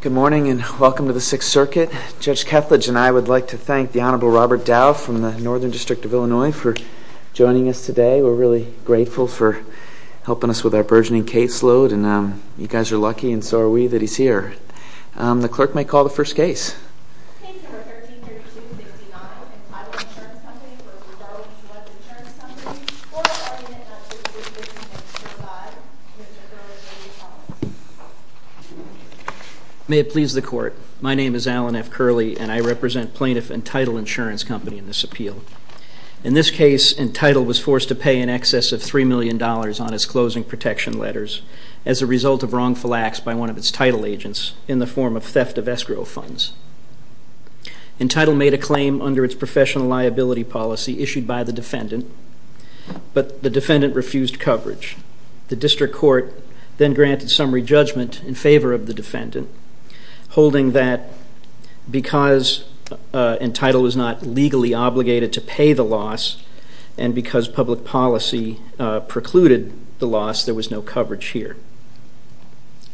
Good morning and welcome to the Sixth Circuit. Judge Kethledge and I would like to thank the Honorable Robert Dow from the Northern District of Illinois for joining us today. We're really grateful for helping us with our burgeoning caseload and you guys are lucky and so are we that he's here. The clerk may call the first case. Case number 13-32-69, Entitle Insurance Company v. Darwin Select Insurance Company. Court will now hear the testimony of Mr. Alan F. Curley. May it please the Court. My name is Alan F. Curley and I represent Plaintiff Entitle Insurance Company in this appeal. In this case, Entitle was forced to pay in excess of $3 million on his closing protection letters as a result of wrongful acts by one of its title agents in the form of theft of escrow funds. Entitle made a claim under its professional liability policy issued by the defendant, but the defendant refused coverage. The District Court then granted summary judgment in favor of the defendant, holding that because Entitle was not legally obligated to pay the loss and because public policy precluded the loss, there was no coverage here.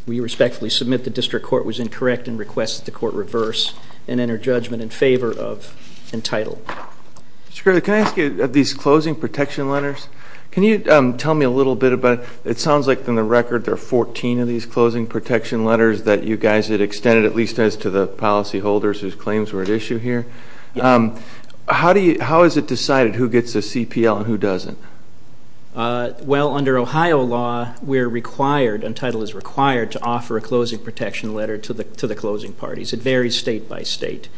We respectfully submit the District Court was incorrect and request that the Court reverse and enter judgment in favor of Entitle. Mr. Curley, can I ask you, of these closing protection letters, can you tell me a little bit about it? It sounds like in the record there are 14 of these closing protection letters that you guys had extended, at least as to the policyholders whose claims were at issue here. Yes. How is it decided who gets a CPL and who doesn't? Well, under Ohio law, we're required, Entitle is required, to offer a closing protection letter to the closing parties. It varies state by state.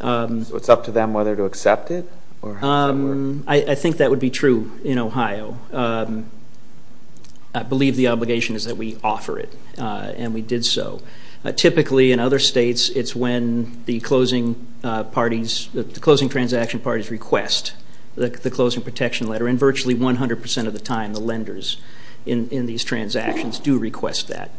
So it's up to them whether to accept it? I think that would be true in Ohio. I believe the obligation is that we offer it, and we did so. Typically, in other states, it's when the closing transaction parties request the closing protection letter, and virtually 100% of the time, the lenders in these transactions do request that.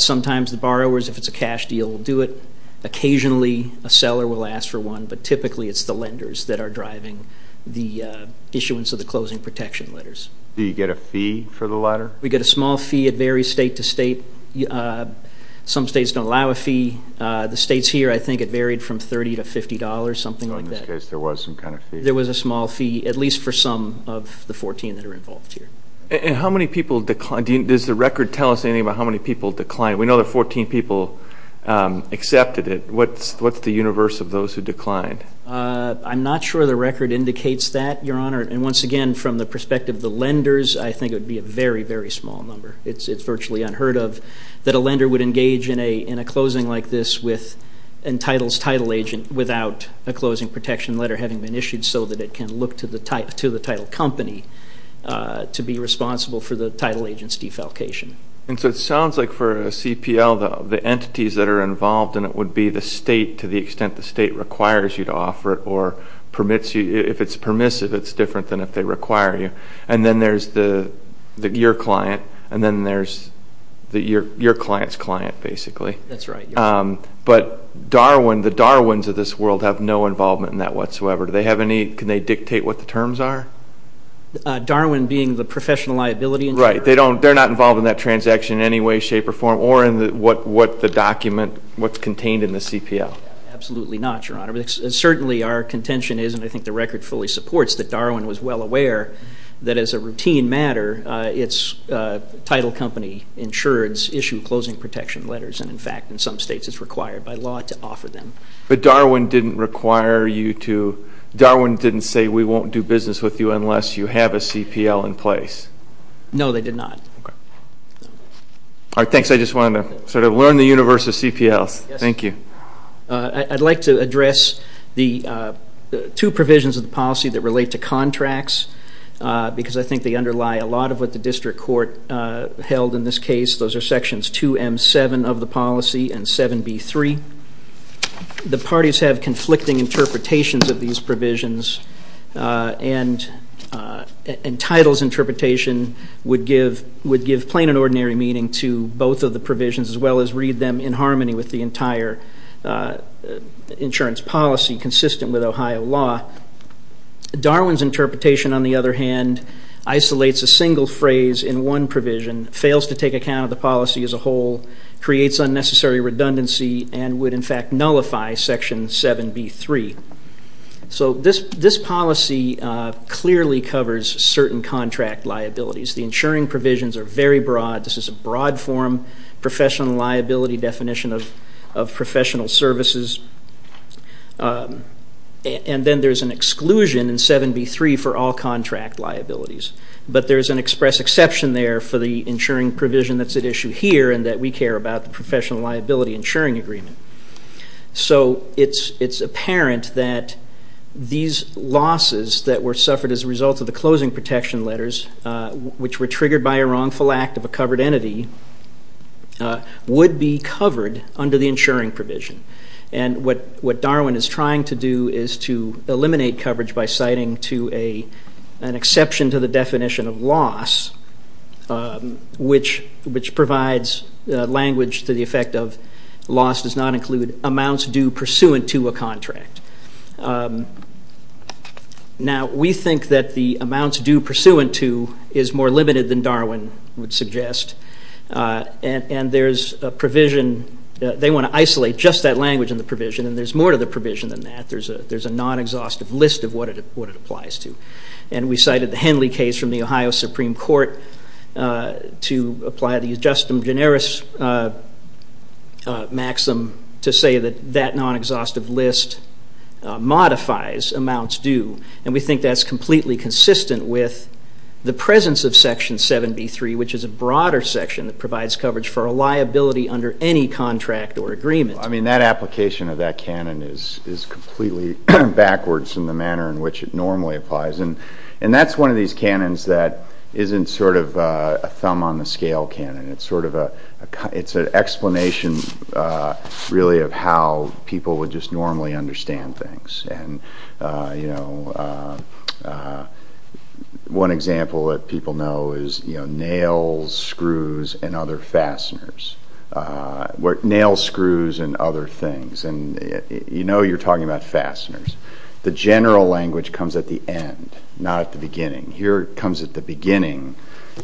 Sometimes the borrowers, if it's a cash deal, will do it. Occasionally, a seller will ask for one, but typically it's the lenders that are driving the issuance of the closing protection letters. Do you get a fee for the letter? We get a small fee. It varies state to state. Some states don't allow a fee. The states here, I think it varied from $30 to $50, something like that. So in this case, there was some kind of fee? There was a small fee, at least for some of the 14 that are involved here. And how many people declined? Does the record tell us anything about how many people declined? We know that 14 people accepted it. What's the universe of those who declined? I'm not sure the record indicates that, Your Honor. And once again, from the perspective of the lenders, I think it would be a very, very small number. It's virtually unheard of that a lender would engage in a closing like this with entitled title agent without a closing protection letter having been issued so that it can look to the title company to be responsible for the title agent's defalcation. And so it sounds like for a CPL, the entities that are involved in it would be the state, to the extent the state requires you to offer it or permits you. If it's permissive, it's different than if they require you. And then there's your client, and then there's your client's client, basically. That's right. But Darwin, the Darwins of this world, have no involvement in that whatsoever. Do they have any? Can they dictate what the terms are? Darwin being the professional liability? Right. They're not involved in that transaction in any way, shape, or form, or in what the document, what's contained in the CPL. Absolutely not, Your Honor. Certainly our contention is, and I think the record fully supports, that Darwin was well aware that as a routine matter, its title company insureds issue closing protection letters. And, in fact, in some states it's required by law to offer them. But Darwin didn't require you to, Darwin didn't say, we won't do business with you unless you have a CPL in place. No, they did not. Okay. All right, thanks. I just wanted to sort of learn the universe of CPLs. Thank you. I'd like to address the two provisions of the policy that relate to contracts, because I think they underlie a lot of what the district court held in this case. Those are Sections 2M7 of the policy and 7B3. The parties have conflicting interpretations of these provisions, and Title's interpretation would give plain and ordinary meaning to both of the provisions, as well as read them in harmony with the entire insurance policy consistent with Ohio law. Darwin's interpretation, on the other hand, isolates a single phrase in one provision, fails to take account of the policy as a whole, creates unnecessary redundancy, and would, in fact, nullify Section 7B3. So this policy clearly covers certain contract liabilities. The insuring provisions are very broad. This is a broad form professional liability definition of professional services. And then there's an exclusion in 7B3 for all contract liabilities. But there's an express exception there for the insuring provision that's at issue here and that we care about, the professional liability insuring agreement. So it's apparent that these losses that were suffered as a result of the closing protection letters, which were triggered by a wrongful act of a covered entity, would be covered under the insuring provision. And what Darwin is trying to do is to eliminate coverage by citing an exception to the definition of loss, which provides language to the effect of loss does not include amounts due pursuant to a contract. Now, we think that the amounts due pursuant to is more limited than Darwin would suggest. And there's a provision that they want to isolate just that language in the provision, and there's more to the provision than that. There's a non-exhaustive list of what it applies to. And we cited the Henley case from the Ohio Supreme Court to apply the ad justum generis maxim to say that that non-exhaustive list modifies amounts due. And we think that's completely consistent with the presence of Section 7B3, which is a broader section that provides coverage for a liability under any contract or agreement. I mean, that application of that canon is completely backwards in the manner in which it normally applies. And that's one of these canons that isn't sort of a thumb-on-the-scale canon. It's an explanation, really, of how people would just normally understand things. One example that people know is nails, screws, and other things. And you know you're talking about fasteners. The general language comes at the end, not at the beginning. Here it comes at the beginning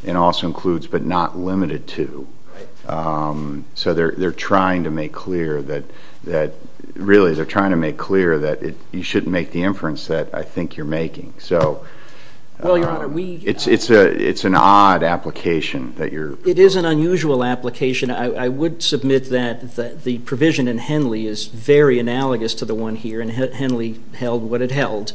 and also includes but not limited to. So they're trying to make clear that you shouldn't make the inference that I think you're making. So it's an odd application. It is an unusual application. I would submit that the provision in Henley is very analogous to the one here, and Henley held what it held.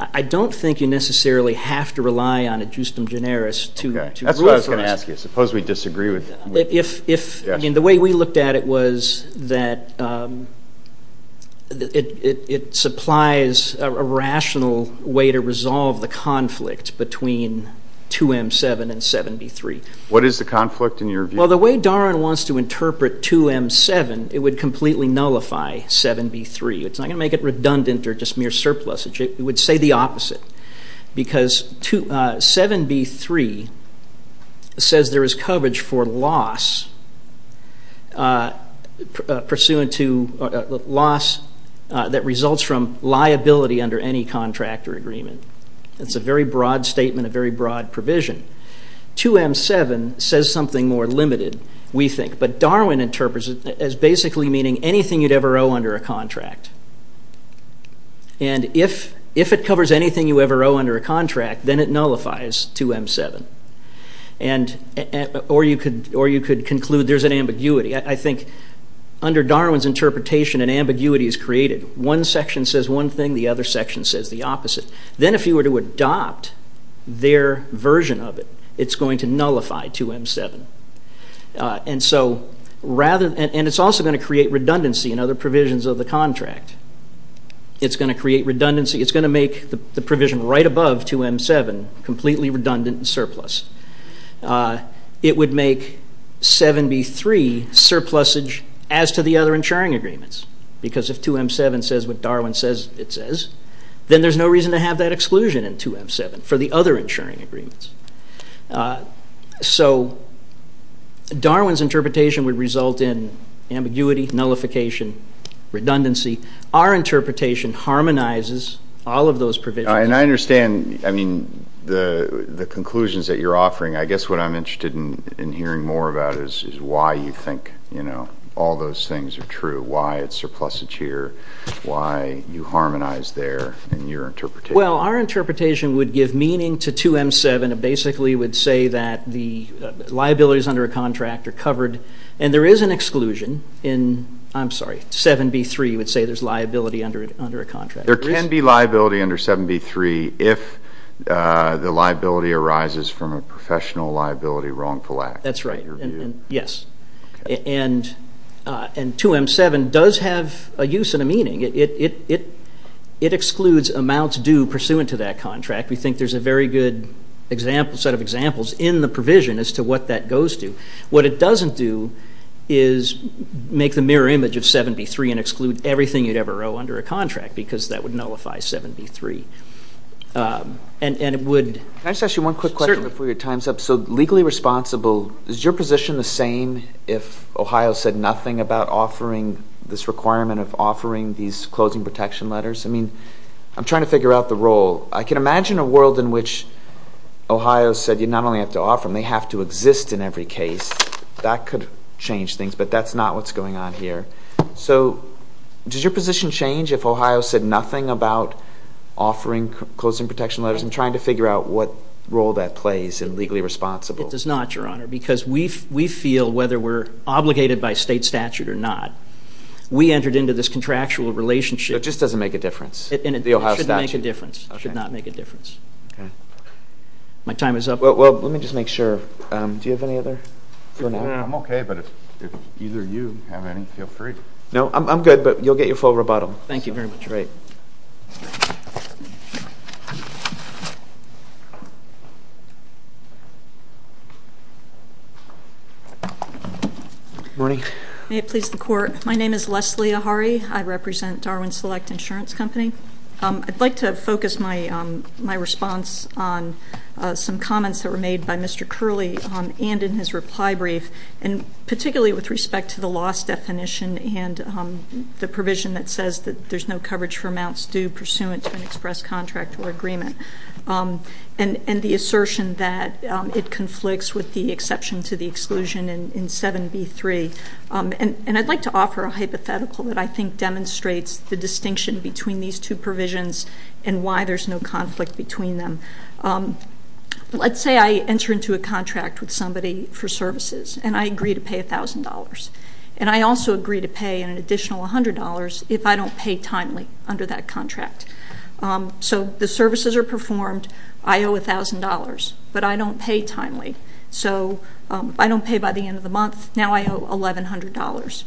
I don't think you necessarily have to rely on ad justum generis to rule for us. That's what I was going to ask you. Suppose we disagree with it. I mean, the way we looked at it was that it supplies a rational way to resolve the conflict between 2M7 and 7B3. What is the conflict in your view? Well, the way Daron wants to interpret 2M7, it would completely nullify 7B3. It's not going to make it redundant or just mere surplus. It would say the opposite because 7B3 says there is coverage for loss that results from liability under any contract or agreement. That's a very broad statement, a very broad provision. 2M7 says something more limited, we think. But Darwin interprets it as basically meaning anything you'd ever owe under a contract. And if it covers anything you ever owe under a contract, then it nullifies 2M7. Or you could conclude there's an ambiguity. I think under Darwin's interpretation, an ambiguity is created. One section says one thing, the other section says the opposite. Then if you were to adopt their version of it, it's going to nullify 2M7. And it's also going to create redundancy in other provisions of the contract. It's going to create redundancy. It's going to make the provision right above 2M7 completely redundant and surplus. It would make 7B3 surplusage as to the other insuring agreements. Because if 2M7 says what Darwin says it says, then there's no reason to have that exclusion in 2M7 for the other insuring agreements. So Darwin's interpretation would result in ambiguity, nullification, redundancy. Our interpretation harmonizes all of those provisions. And I understand, I mean, the conclusions that you're offering. I guess what I'm interested in hearing more about is why you think, you know, all those things are true. Why it's surplusage here, why you harmonize there in your interpretation. Well, our interpretation would give meaning to 2M7. It basically would say that the liabilities under a contract are covered. And there is an exclusion in, I'm sorry, 7B3 would say there's liability under a contract. There can be liability under 7B3 if the liability arises from a professional liability wrongful act. That's right. Yes. And 2M7 does have a use and a meaning. It excludes amounts due pursuant to that contract. We think there's a very good set of examples in the provision as to what that goes to. What it doesn't do is make the mirror image of 7B3 and exclude everything you'd ever owe under a contract because that would nullify 7B3. And it would... Can I just ask you one quick question before your time's up? So legally responsible, is your position the same if Ohio said nothing about offering this requirement of offering these closing protection letters? I mean, I'm trying to figure out the role. I can imagine a world in which Ohio said you not only have to offer them, they have to exist in every case. That could change things, but that's not what's going on here. So does your position change if Ohio said nothing about offering closing protection letters? Because I'm trying to figure out what role that plays in legally responsible. It does not, Your Honor, because we feel whether we're obligated by state statute or not, we entered into this contractual relationship. It just doesn't make a difference. It shouldn't make a difference. It should not make a difference. Okay. My time is up. Well, let me just make sure. Do you have any other... I'm okay, but if either you have any, feel free. No, I'm good, but you'll get your full rebuttal. Thank you very much. Great. Thank you. Good morning. May it please the Court. My name is Leslie Ahari. I represent Darwin Select Insurance Company. I'd like to focus my response on some comments that were made by Mr. Curley and in his reply brief, and particularly with respect to the loss definition and the provision that says that there's no coverage for amounts due pursuant to an express contract or agreement, and the assertion that it conflicts with the exception to the exclusion in 7B3. And I'd like to offer a hypothetical that I think demonstrates the distinction between these two provisions and why there's no conflict between them. Let's say I enter into a contract with somebody for services, and I agree to pay $1,000. And I also agree to pay an additional $100 if I don't pay timely under that contract. So the services are performed. I owe $1,000, but I don't pay timely. So I don't pay by the end of the month. Now I owe $1,100.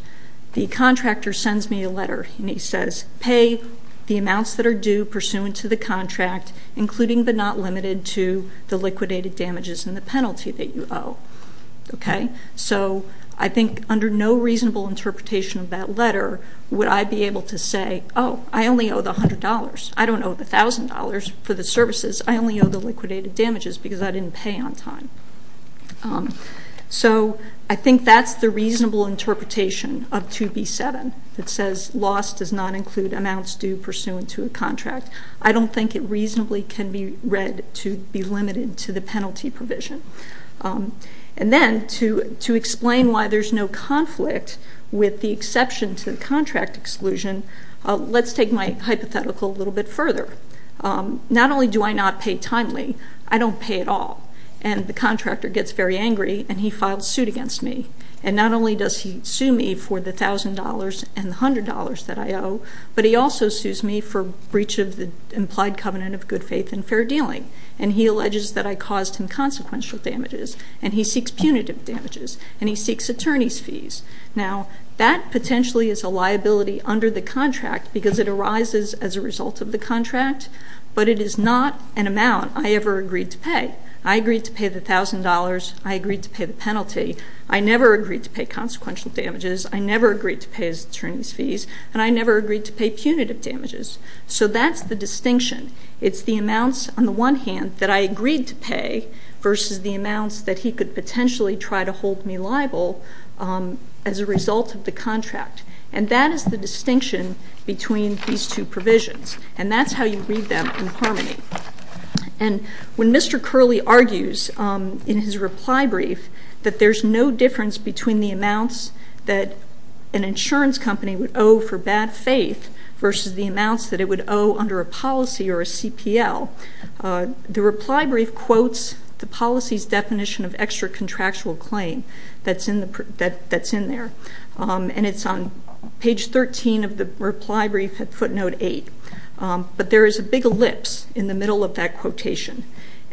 The contractor sends me a letter, and he says, pay the amounts that are due pursuant to the contract, including but not limited to the liquidated damages and the penalty that you owe. So I think under no reasonable interpretation of that letter would I be able to say, oh, I only owe the $100. I don't owe the $1,000 for the services. I only owe the liquidated damages because I didn't pay on time. So I think that's the reasonable interpretation of 2B-7. It says loss does not include amounts due pursuant to a contract. I don't think it reasonably can be read to be limited to the penalty provision. And then to explain why there's no conflict with the exception to the contract exclusion, let's take my hypothetical a little bit further. Not only do I not pay timely, I don't pay at all. And the contractor gets very angry, and he files suit against me. And not only does he sue me for the $1,000 and the $100 that I owe, but he also sues me for breach of the implied covenant of good faith and fair dealing. And he alleges that I caused him consequential damages, and he seeks punitive damages, and he seeks attorney's fees. Now that potentially is a liability under the contract because it arises as a result of the contract, but it is not an amount I ever agreed to pay. I agreed to pay the $1,000. I agreed to pay the penalty. I never agreed to pay consequential damages. I never agreed to pay his attorney's fees. And I never agreed to pay punitive damages. So that's the distinction. It's the amounts on the one hand that I agreed to pay versus the amounts that he could potentially try to hold me liable as a result of the contract. And that is the distinction between these two provisions. And that's how you read them in harmony. And when Mr. Curley argues in his reply brief that there's no difference between the amounts that an insurance company would owe for bad faith versus the amounts that it would owe under a policy or a CPL, the reply brief quotes the policy's definition of extra-contractual claim that's in there. And it's on page 13 of the reply brief at footnote 8. But there is a big ellipse in the middle of that quotation.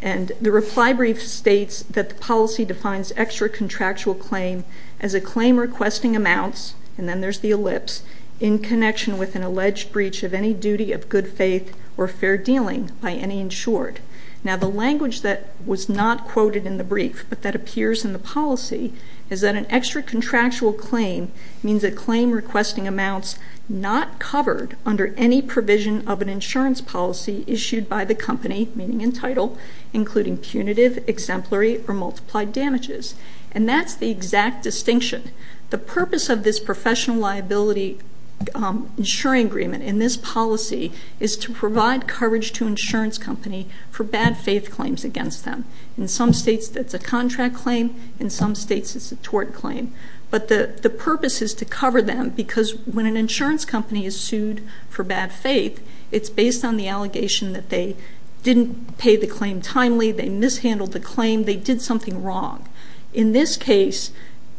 And the reply brief states that the policy defines extra-contractual claim as a claim requesting amounts, and then there's the ellipse, in connection with an alleged breach of any duty of good faith or fair dealing by any insured. Now, the language that was not quoted in the brief but that appears in the policy is that an extra-contractual claim means a claim requesting amounts not covered under any provision of an insurance policy issued by the company, meaning in title, including punitive, exemplary, or multiplied damages. And that's the exact distinction. The purpose of this professional liability insuring agreement in this policy is to provide coverage to insurance company for bad faith claims against them. In some states, that's a contract claim. In some states, it's a tort claim. But the purpose is to cover them because when an insurance company is sued for bad faith, it's based on the allegation that they didn't pay the claim timely, they mishandled the claim, they did something wrong. In this case,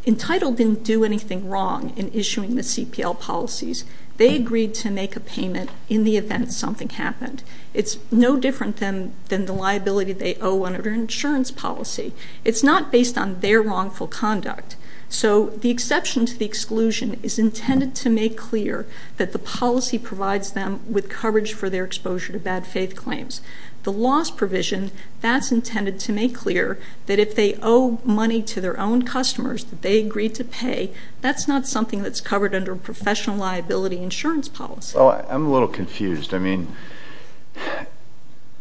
Entitled didn't do anything wrong in issuing the CPL policies. They agreed to make a payment in the event something happened. It's no different than the liability they owe under an insurance policy. It's not based on their wrongful conduct. So the exception to the exclusion is intended to make clear that the policy provides them with coverage for their exposure to bad faith claims. The loss provision, that's intended to make clear that if they owe money to their own customers that they agreed to pay, that's not something that's covered under a professional liability insurance policy. I'm a little confused. I mean,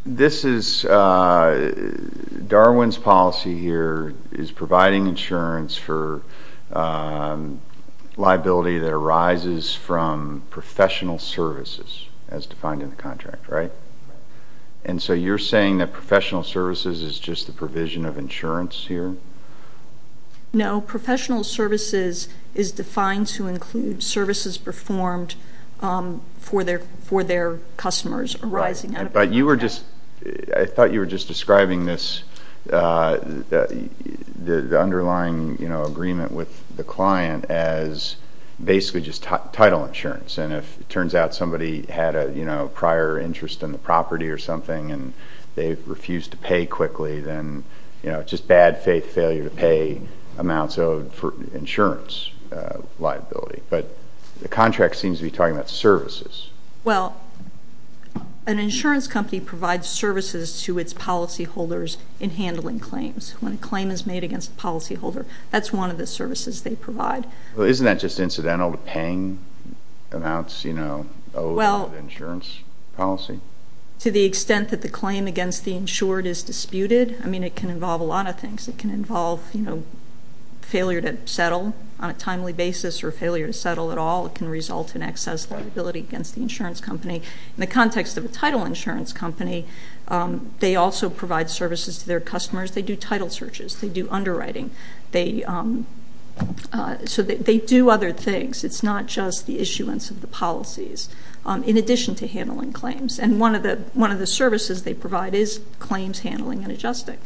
this is Darwin's policy here is providing insurance for liability that arises from professional services as defined in the contract, right? And so you're saying that professional services is just the provision of insurance here? No, professional services is defined to include services performed for their customers arising out of the contract. I thought you were just describing the underlying agreement with the client as basically just title insurance. And if it turns out somebody had a prior interest in the property or something and they refused to pay quickly, then it's just bad faith failure to pay amounts owed for insurance liability. But the contract seems to be talking about services. Well, an insurance company provides services to its policyholders in handling claims. When a claim is made against a policyholder, that's one of the services they provide. Well, isn't that just incidental to paying amounts owed under an insurance policy? To the extent that the claim against the insured is disputed, I mean, it can involve a lot of things. It can involve failure to settle on a timely basis or failure to settle at all. It can result in excess liability against the insurance company. In the context of a title insurance company, they also provide services to their customers. They do title searches. They do underwriting. So they do other things. It's not just the issuance of the policies in addition to handling claims. And one of the services they provide is claims handling and adjusting.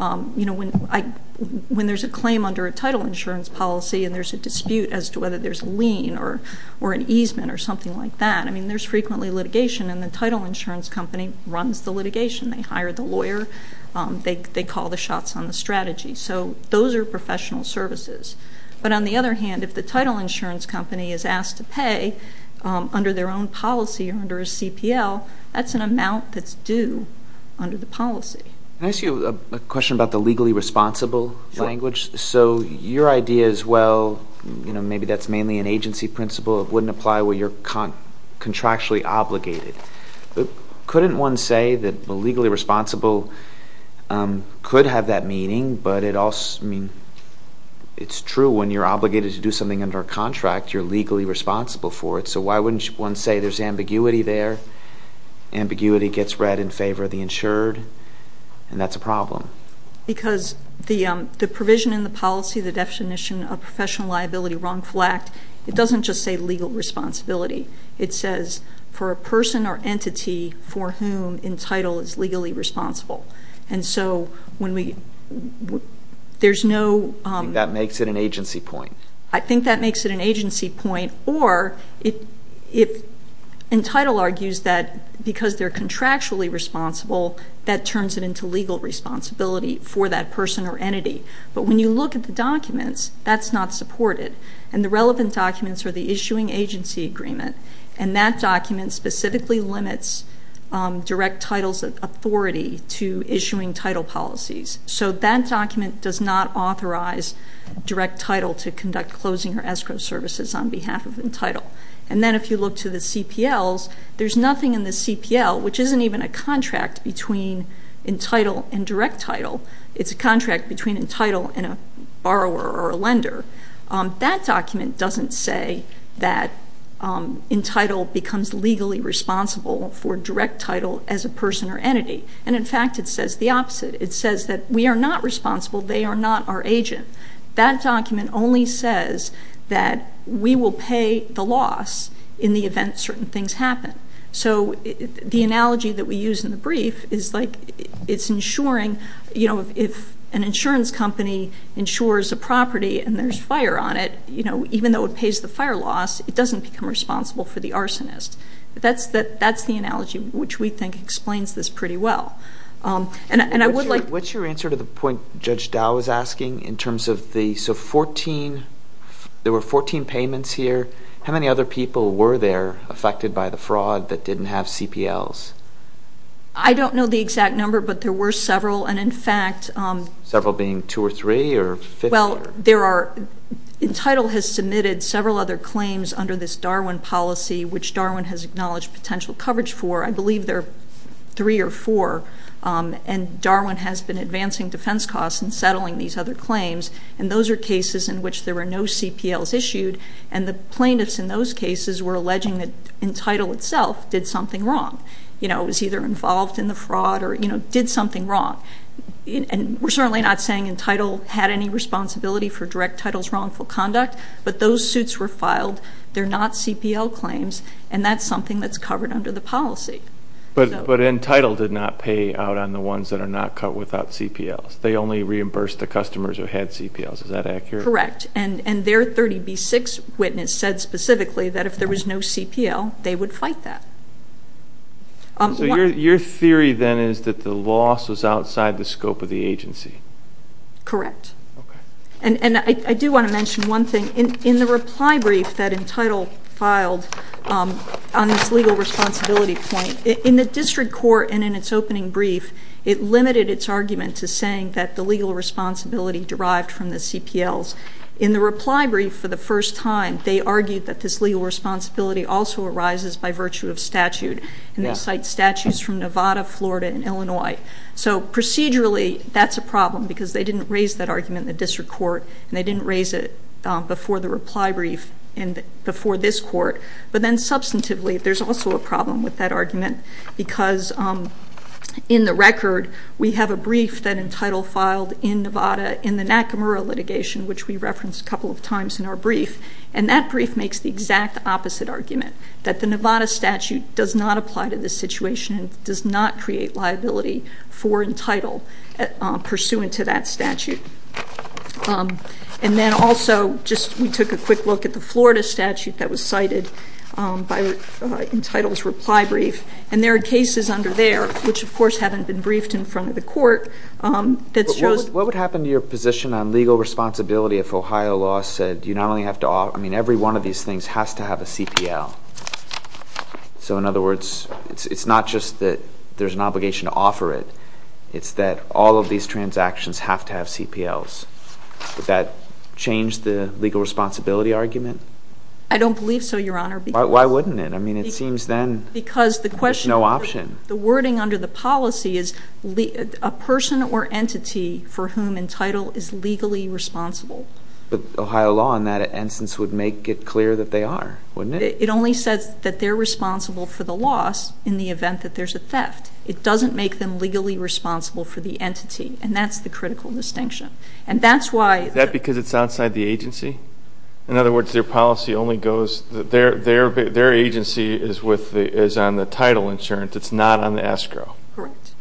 You know, when there's a claim under a title insurance policy and there's a dispute as to whether there's a lien or an easement or something like that, I mean, there's frequently litigation, and the title insurance company runs the litigation. They hire the lawyer. They call the shots on the strategy. So those are professional services. But on the other hand, if the title insurance company is asked to pay under their own policy or under a CPL, that's an amount that's due under the policy. Can I ask you a question about the legally responsible language? Sure. So your idea is, well, you know, maybe that's mainly an agency principle. It wouldn't apply where you're contractually obligated. Couldn't one say that legally responsible could have that meaning, but it also, I mean, it's true. When you're obligated to do something under a contract, you're legally responsible for it. So why wouldn't one say there's ambiguity there? Ambiguity gets read in favor of the insured, and that's a problem. Because the provision in the policy, the definition of professional liability wrongful act, it doesn't just say legal responsibility. It says for a person or entity for whom Entitle is legally responsible. And so when we – there's no – That makes it an agency point. I think that makes it an agency point. Or if Entitle argues that because they're contractually responsible, that turns it into legal responsibility for that person or entity. But when you look at the documents, that's not supported. And the relevant documents are the issuing agency agreement, and that document specifically limits direct title's authority to issuing title policies. So that document does not authorize direct title to conduct closing or escrow services on behalf of Entitle. And then if you look to the CPLs, there's nothing in the CPL, which isn't even a contract between Entitle and direct title. It's a contract between Entitle and a borrower or a lender. That document doesn't say that Entitle becomes legally responsible for direct title as a person or entity. And, in fact, it says the opposite. It says that we are not responsible. They are not our agent. That document only says that we will pay the loss in the event certain things happen. So the analogy that we use in the brief is like it's insuring – if an insurance company insures a property and there's fire on it, even though it pays the fire loss, it doesn't become responsible for the arsonist. That's the analogy which we think explains this pretty well. And I would like – What's your answer to the point Judge Dow was asking in terms of the – so 14 – there were 14 payments here. How many other people were there affected by the fraud that didn't have CPLs? I don't know the exact number, but there were several. And, in fact – Several being two or three or – Well, there are – Entitle has submitted several other claims under this Darwin policy, which Darwin has acknowledged potential coverage for. I believe there are three or four. And Darwin has been advancing defense costs and settling these other claims. And those are cases in which there were no CPLs issued. And the plaintiffs in those cases were alleging that Entitle itself did something wrong. You know, it was either involved in the fraud or, you know, did something wrong. And we're certainly not saying Entitle had any responsibility for Direct Title's wrongful conduct, but those suits were filed. They're not CPL claims, and that's something that's covered under the policy. But Entitle did not pay out on the ones that are not cut without CPLs. They only reimbursed the customers who had CPLs. Is that accurate? Correct. And their 30B6 witness said specifically that if there was no CPL, they would fight that. So your theory then is that the loss was outside the scope of the agency? Correct. Okay. And I do want to mention one thing. In the reply brief that Entitle filed on its legal responsibility point, in the district court and in its opening brief, it limited its argument to saying that the legal responsibility derived from the CPLs. In the reply brief for the first time, they argued that this legal responsibility also arises by virtue of statute, and they cite statutes from Nevada, Florida, and Illinois. So procedurally, that's a problem because they didn't raise that argument in the district court, and they didn't raise it before the reply brief and before this court. Because in the record, we have a brief that Entitle filed in Nevada in the Nakamura litigation, which we referenced a couple of times in our brief, and that brief makes the exact opposite argument, that the Nevada statute does not apply to this situation and does not create liability for Entitle pursuant to that statute. And then also, just we took a quick look at the Florida statute that was cited by Entitle's reply brief, and there are cases under there, which of course haven't been briefed in front of the court, that shows But what would happen to your position on legal responsibility if Ohio law said you not only have to offer, I mean every one of these things has to have a CPL? So in other words, it's not just that there's an obligation to offer it, it's that all of these transactions have to have CPLs. Would that change the legal responsibility argument? I don't believe so, Your Honor. Why wouldn't it? I mean it seems then there's no option. The wording under the policy is a person or entity for whom Entitle is legally responsible. But Ohio law in that instance would make it clear that they are, wouldn't it? It only says that they're responsible for the loss in the event that there's a theft. It doesn't make them legally responsible for the entity, and that's the critical distinction. And that's why Is that because it's outside the agency? In other words, their policy only goes, their agency is on the title insurance. It's not on the escrow. Correct.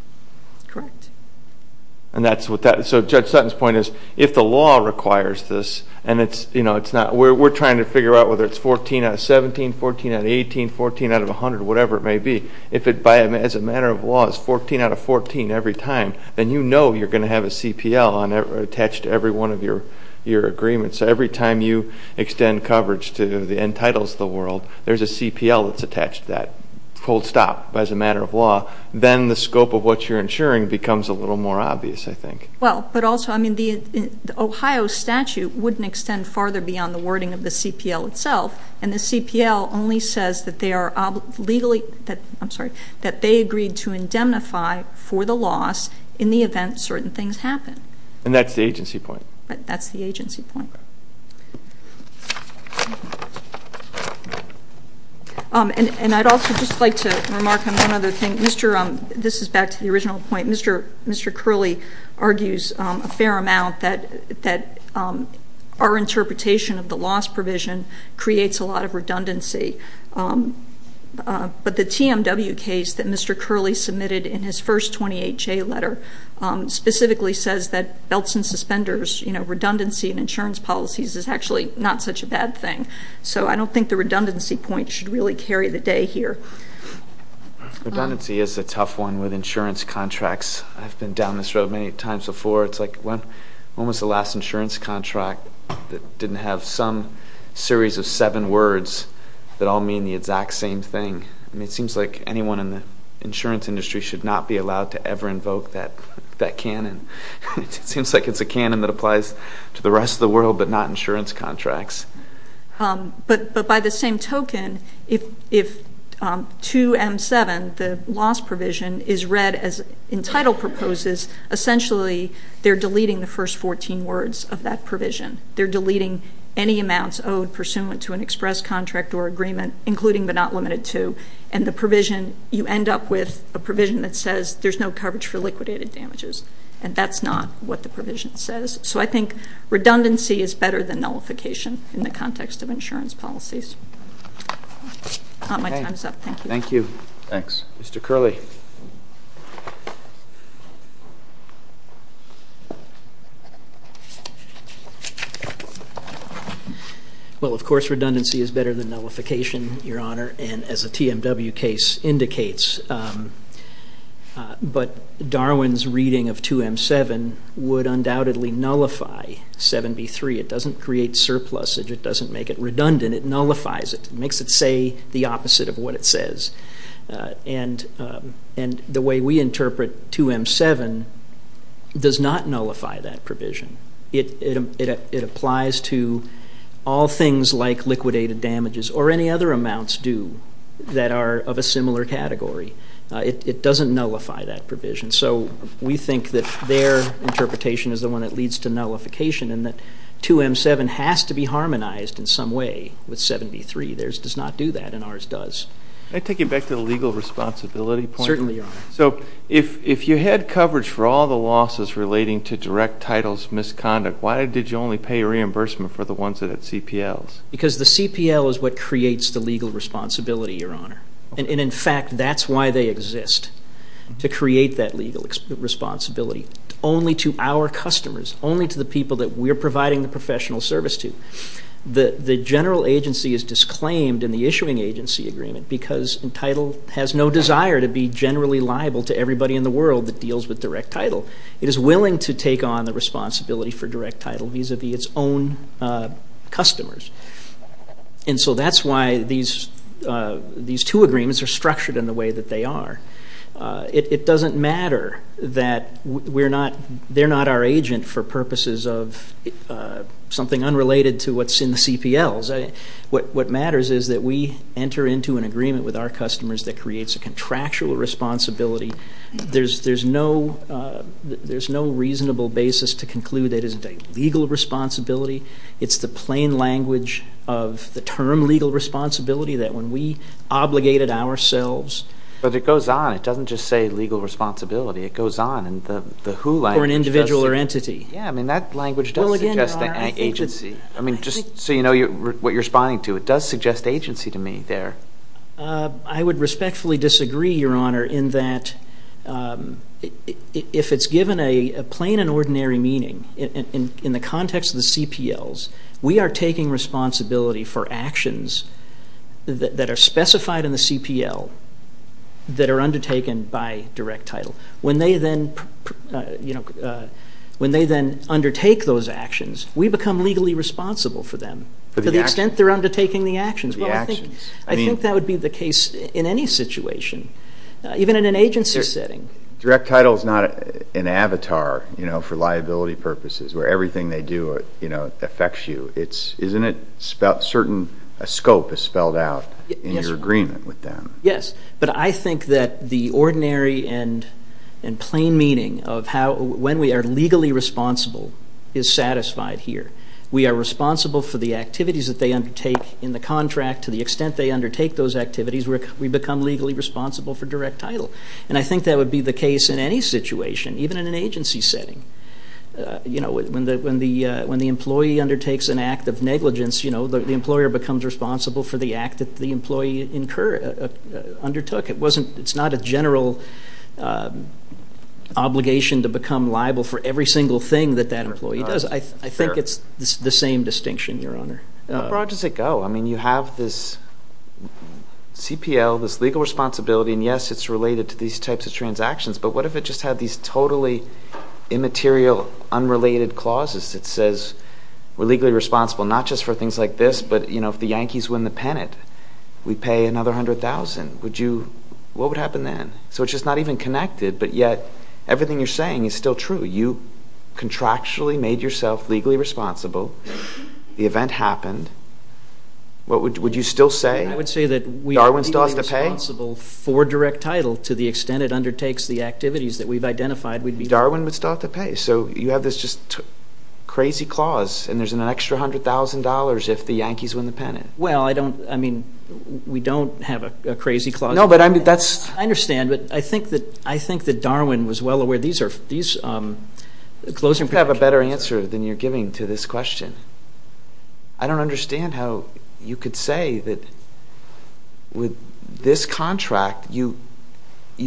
And that's what that, so Judge Sutton's point is, if the law requires this, and it's, you know, it's not, we're trying to figure out whether it's 14 out of 17, 14 out of 18, 14 out of 100, whatever it may be. If it, as a matter of law, is 14 out of 14 every time, then you know you're going to have a CPL attached to every one of your agreements. So every time you extend coverage to the Entitles of the world, there's a CPL that's attached to that, hold stop, as a matter of law. Then the scope of what you're insuring becomes a little more obvious, I think. Well, but also, I mean, the Ohio statute wouldn't extend farther beyond the wording of the CPL itself. And the CPL only says that they are legally, I'm sorry, that they agreed to indemnify for the loss in the event certain things happen. And that's the agency point. That's the agency point. And I'd also just like to remark on one other thing. This is back to the original point. Mr. Curley argues a fair amount that our interpretation of the loss provision creates a lot of redundancy. But the TMW case that Mr. Curley submitted in his first 28-J letter specifically says that belts and suspenders, redundancy in insurance policies, is actually not such a bad thing. So I don't think the redundancy point should really carry the day here. Redundancy is a tough one with insurance contracts. I've been down this road many times before. It's like when was the last insurance contract that didn't have some series of seven words that all mean the exact same thing? I mean, it seems like anyone in the insurance industry should not be allowed to ever invoke that canon. It seems like it's a canon that applies to the rest of the world but not insurance contracts. But by the same token, if 2M7, the loss provision, is read as in title proposes, essentially they're deleting the first 14 words of that provision. They're deleting any amounts owed pursuant to an express contract or agreement, including but not limited to. And the provision, you end up with a provision that says there's no coverage for liquidated damages. And that's not what the provision says. So I think redundancy is better than nullification in the context of insurance policies. My time's up. Thank you. Thank you. Thanks. Mr. Curley. Well, of course redundancy is better than nullification, Your Honor, and as a TMW case indicates. But Darwin's reading of 2M7 would undoubtedly nullify 7B3. It doesn't create surplusage. It doesn't make it redundant. It nullifies it. It makes it say the opposite of what it says. And the way we interpret 2M7 does not nullify that provision. It applies to all things like liquidated damages or any other amounts due that are of a similar category. It doesn't nullify that provision. So we think that their interpretation is the one that leads to nullification and that 2M7 has to be harmonized in some way with 7B3. Theirs does not do that and ours does. Can I take you back to the legal responsibility point? Certainly, Your Honor. So if you had coverage for all the losses relating to direct titles misconduct, why did you only pay reimbursement for the ones that had CPLs? Because the CPL is what creates the legal responsibility, Your Honor. And, in fact, that's why they exist, to create that legal responsibility, only to our customers, only to the people that we're providing the professional service to. The general agency is disclaimed in the issuing agency agreement because Entitle has no desire to be generally liable to everybody in the world that deals with direct title. It is willing to take on the responsibility for direct title vis-à-vis its own customers. And so that's why these two agreements are structured in the way that they are. It doesn't matter that they're not our agent for purposes of something unrelated to what's in the CPLs. What matters is that we enter into an agreement with our customers that creates a contractual responsibility. There's no reasonable basis to conclude that it is a legal responsibility. It's the plain language of the term legal responsibility that when we obligate it ourselves. But it goes on. It doesn't just say legal responsibility. It goes on. Or an individual or entity. Yeah. I mean, that language does suggest agency. I mean, just so you know what you're responding to. It does suggest agency to me there. I would respectfully disagree, Your Honor, in that if it's given a plain and ordinary meaning, in the context of the CPLs, we are taking responsibility for actions that are specified in the CPL that are undertaken by direct title. When they then undertake those actions, we become legally responsible for them to the extent they're undertaking the actions. Well, I think that would be the case in any situation, even in an agency setting. Direct title is not an avatar, you know, for liability purposes where everything they do, you know, affects you. Isn't it certain a scope is spelled out in your agreement with them? Yes. But I think that the ordinary and plain meaning of how when we are legally responsible is satisfied here. We are responsible for the activities that they undertake in the contract to the extent they undertake those activities. We become legally responsible for direct title. And I think that would be the case in any situation, even in an agency setting. You know, when the employee undertakes an act of negligence, you know, the employer becomes responsible for the act that the employee undertook. It's not a general obligation to become liable for every single thing that that employee does. I think it's the same distinction, Your Honor. How broad does it go? I mean, you have this CPL, this legal responsibility, and, yes, it's related to these types of transactions. But what if it just had these totally immaterial, unrelated clauses that says we're legally responsible not just for things like this, but, you know, if the Yankees win the pennant, we pay another $100,000. Would you – what would happen then? So it's just not even connected, but yet everything you're saying is still true. You contractually made yourself legally responsible. The event happened. Would you still say Darwin still has to pay? I would say that we are legally responsible for direct title to the extent it undertakes the activities that we've identified. Darwin would still have to pay. So you have this just crazy clause, and there's an extra $100,000 if the Yankees win the pennant. Well, I don't – I mean, we don't have a crazy clause. No, but I mean, that's – I understand, but I think that Darwin was well aware. These are – these – You have a better answer than you're giving to this question. I don't understand how you could say that with this contract, you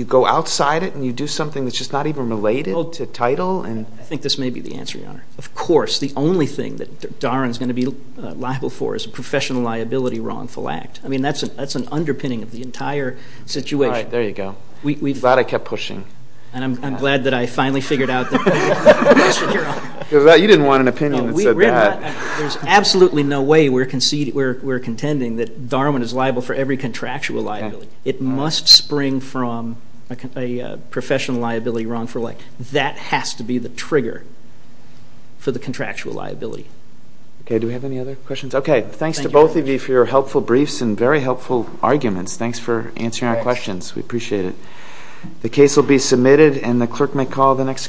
go outside it and you do something that's just not even related to title. I think this may be the answer, Your Honor. Of course. The only thing that Darwin's going to be liable for is a professional liability wrongful act. I mean, that's an underpinning of the entire situation. All right. There you go. I'm glad I kept pushing. And I'm glad that I finally figured out the question, Your Honor. You didn't want an opinion that said that. There's absolutely no way we're contending that Darwin is liable for every contractual liability. It must spring from a professional liability wrongful act. That has to be the trigger for the contractual liability. Okay. Do we have any other questions? Okay. Thanks to both of you for your helpful briefs and very helpful arguments. Thanks for answering our questions. We appreciate it. The case will be submitted, and the clerk may call the next case.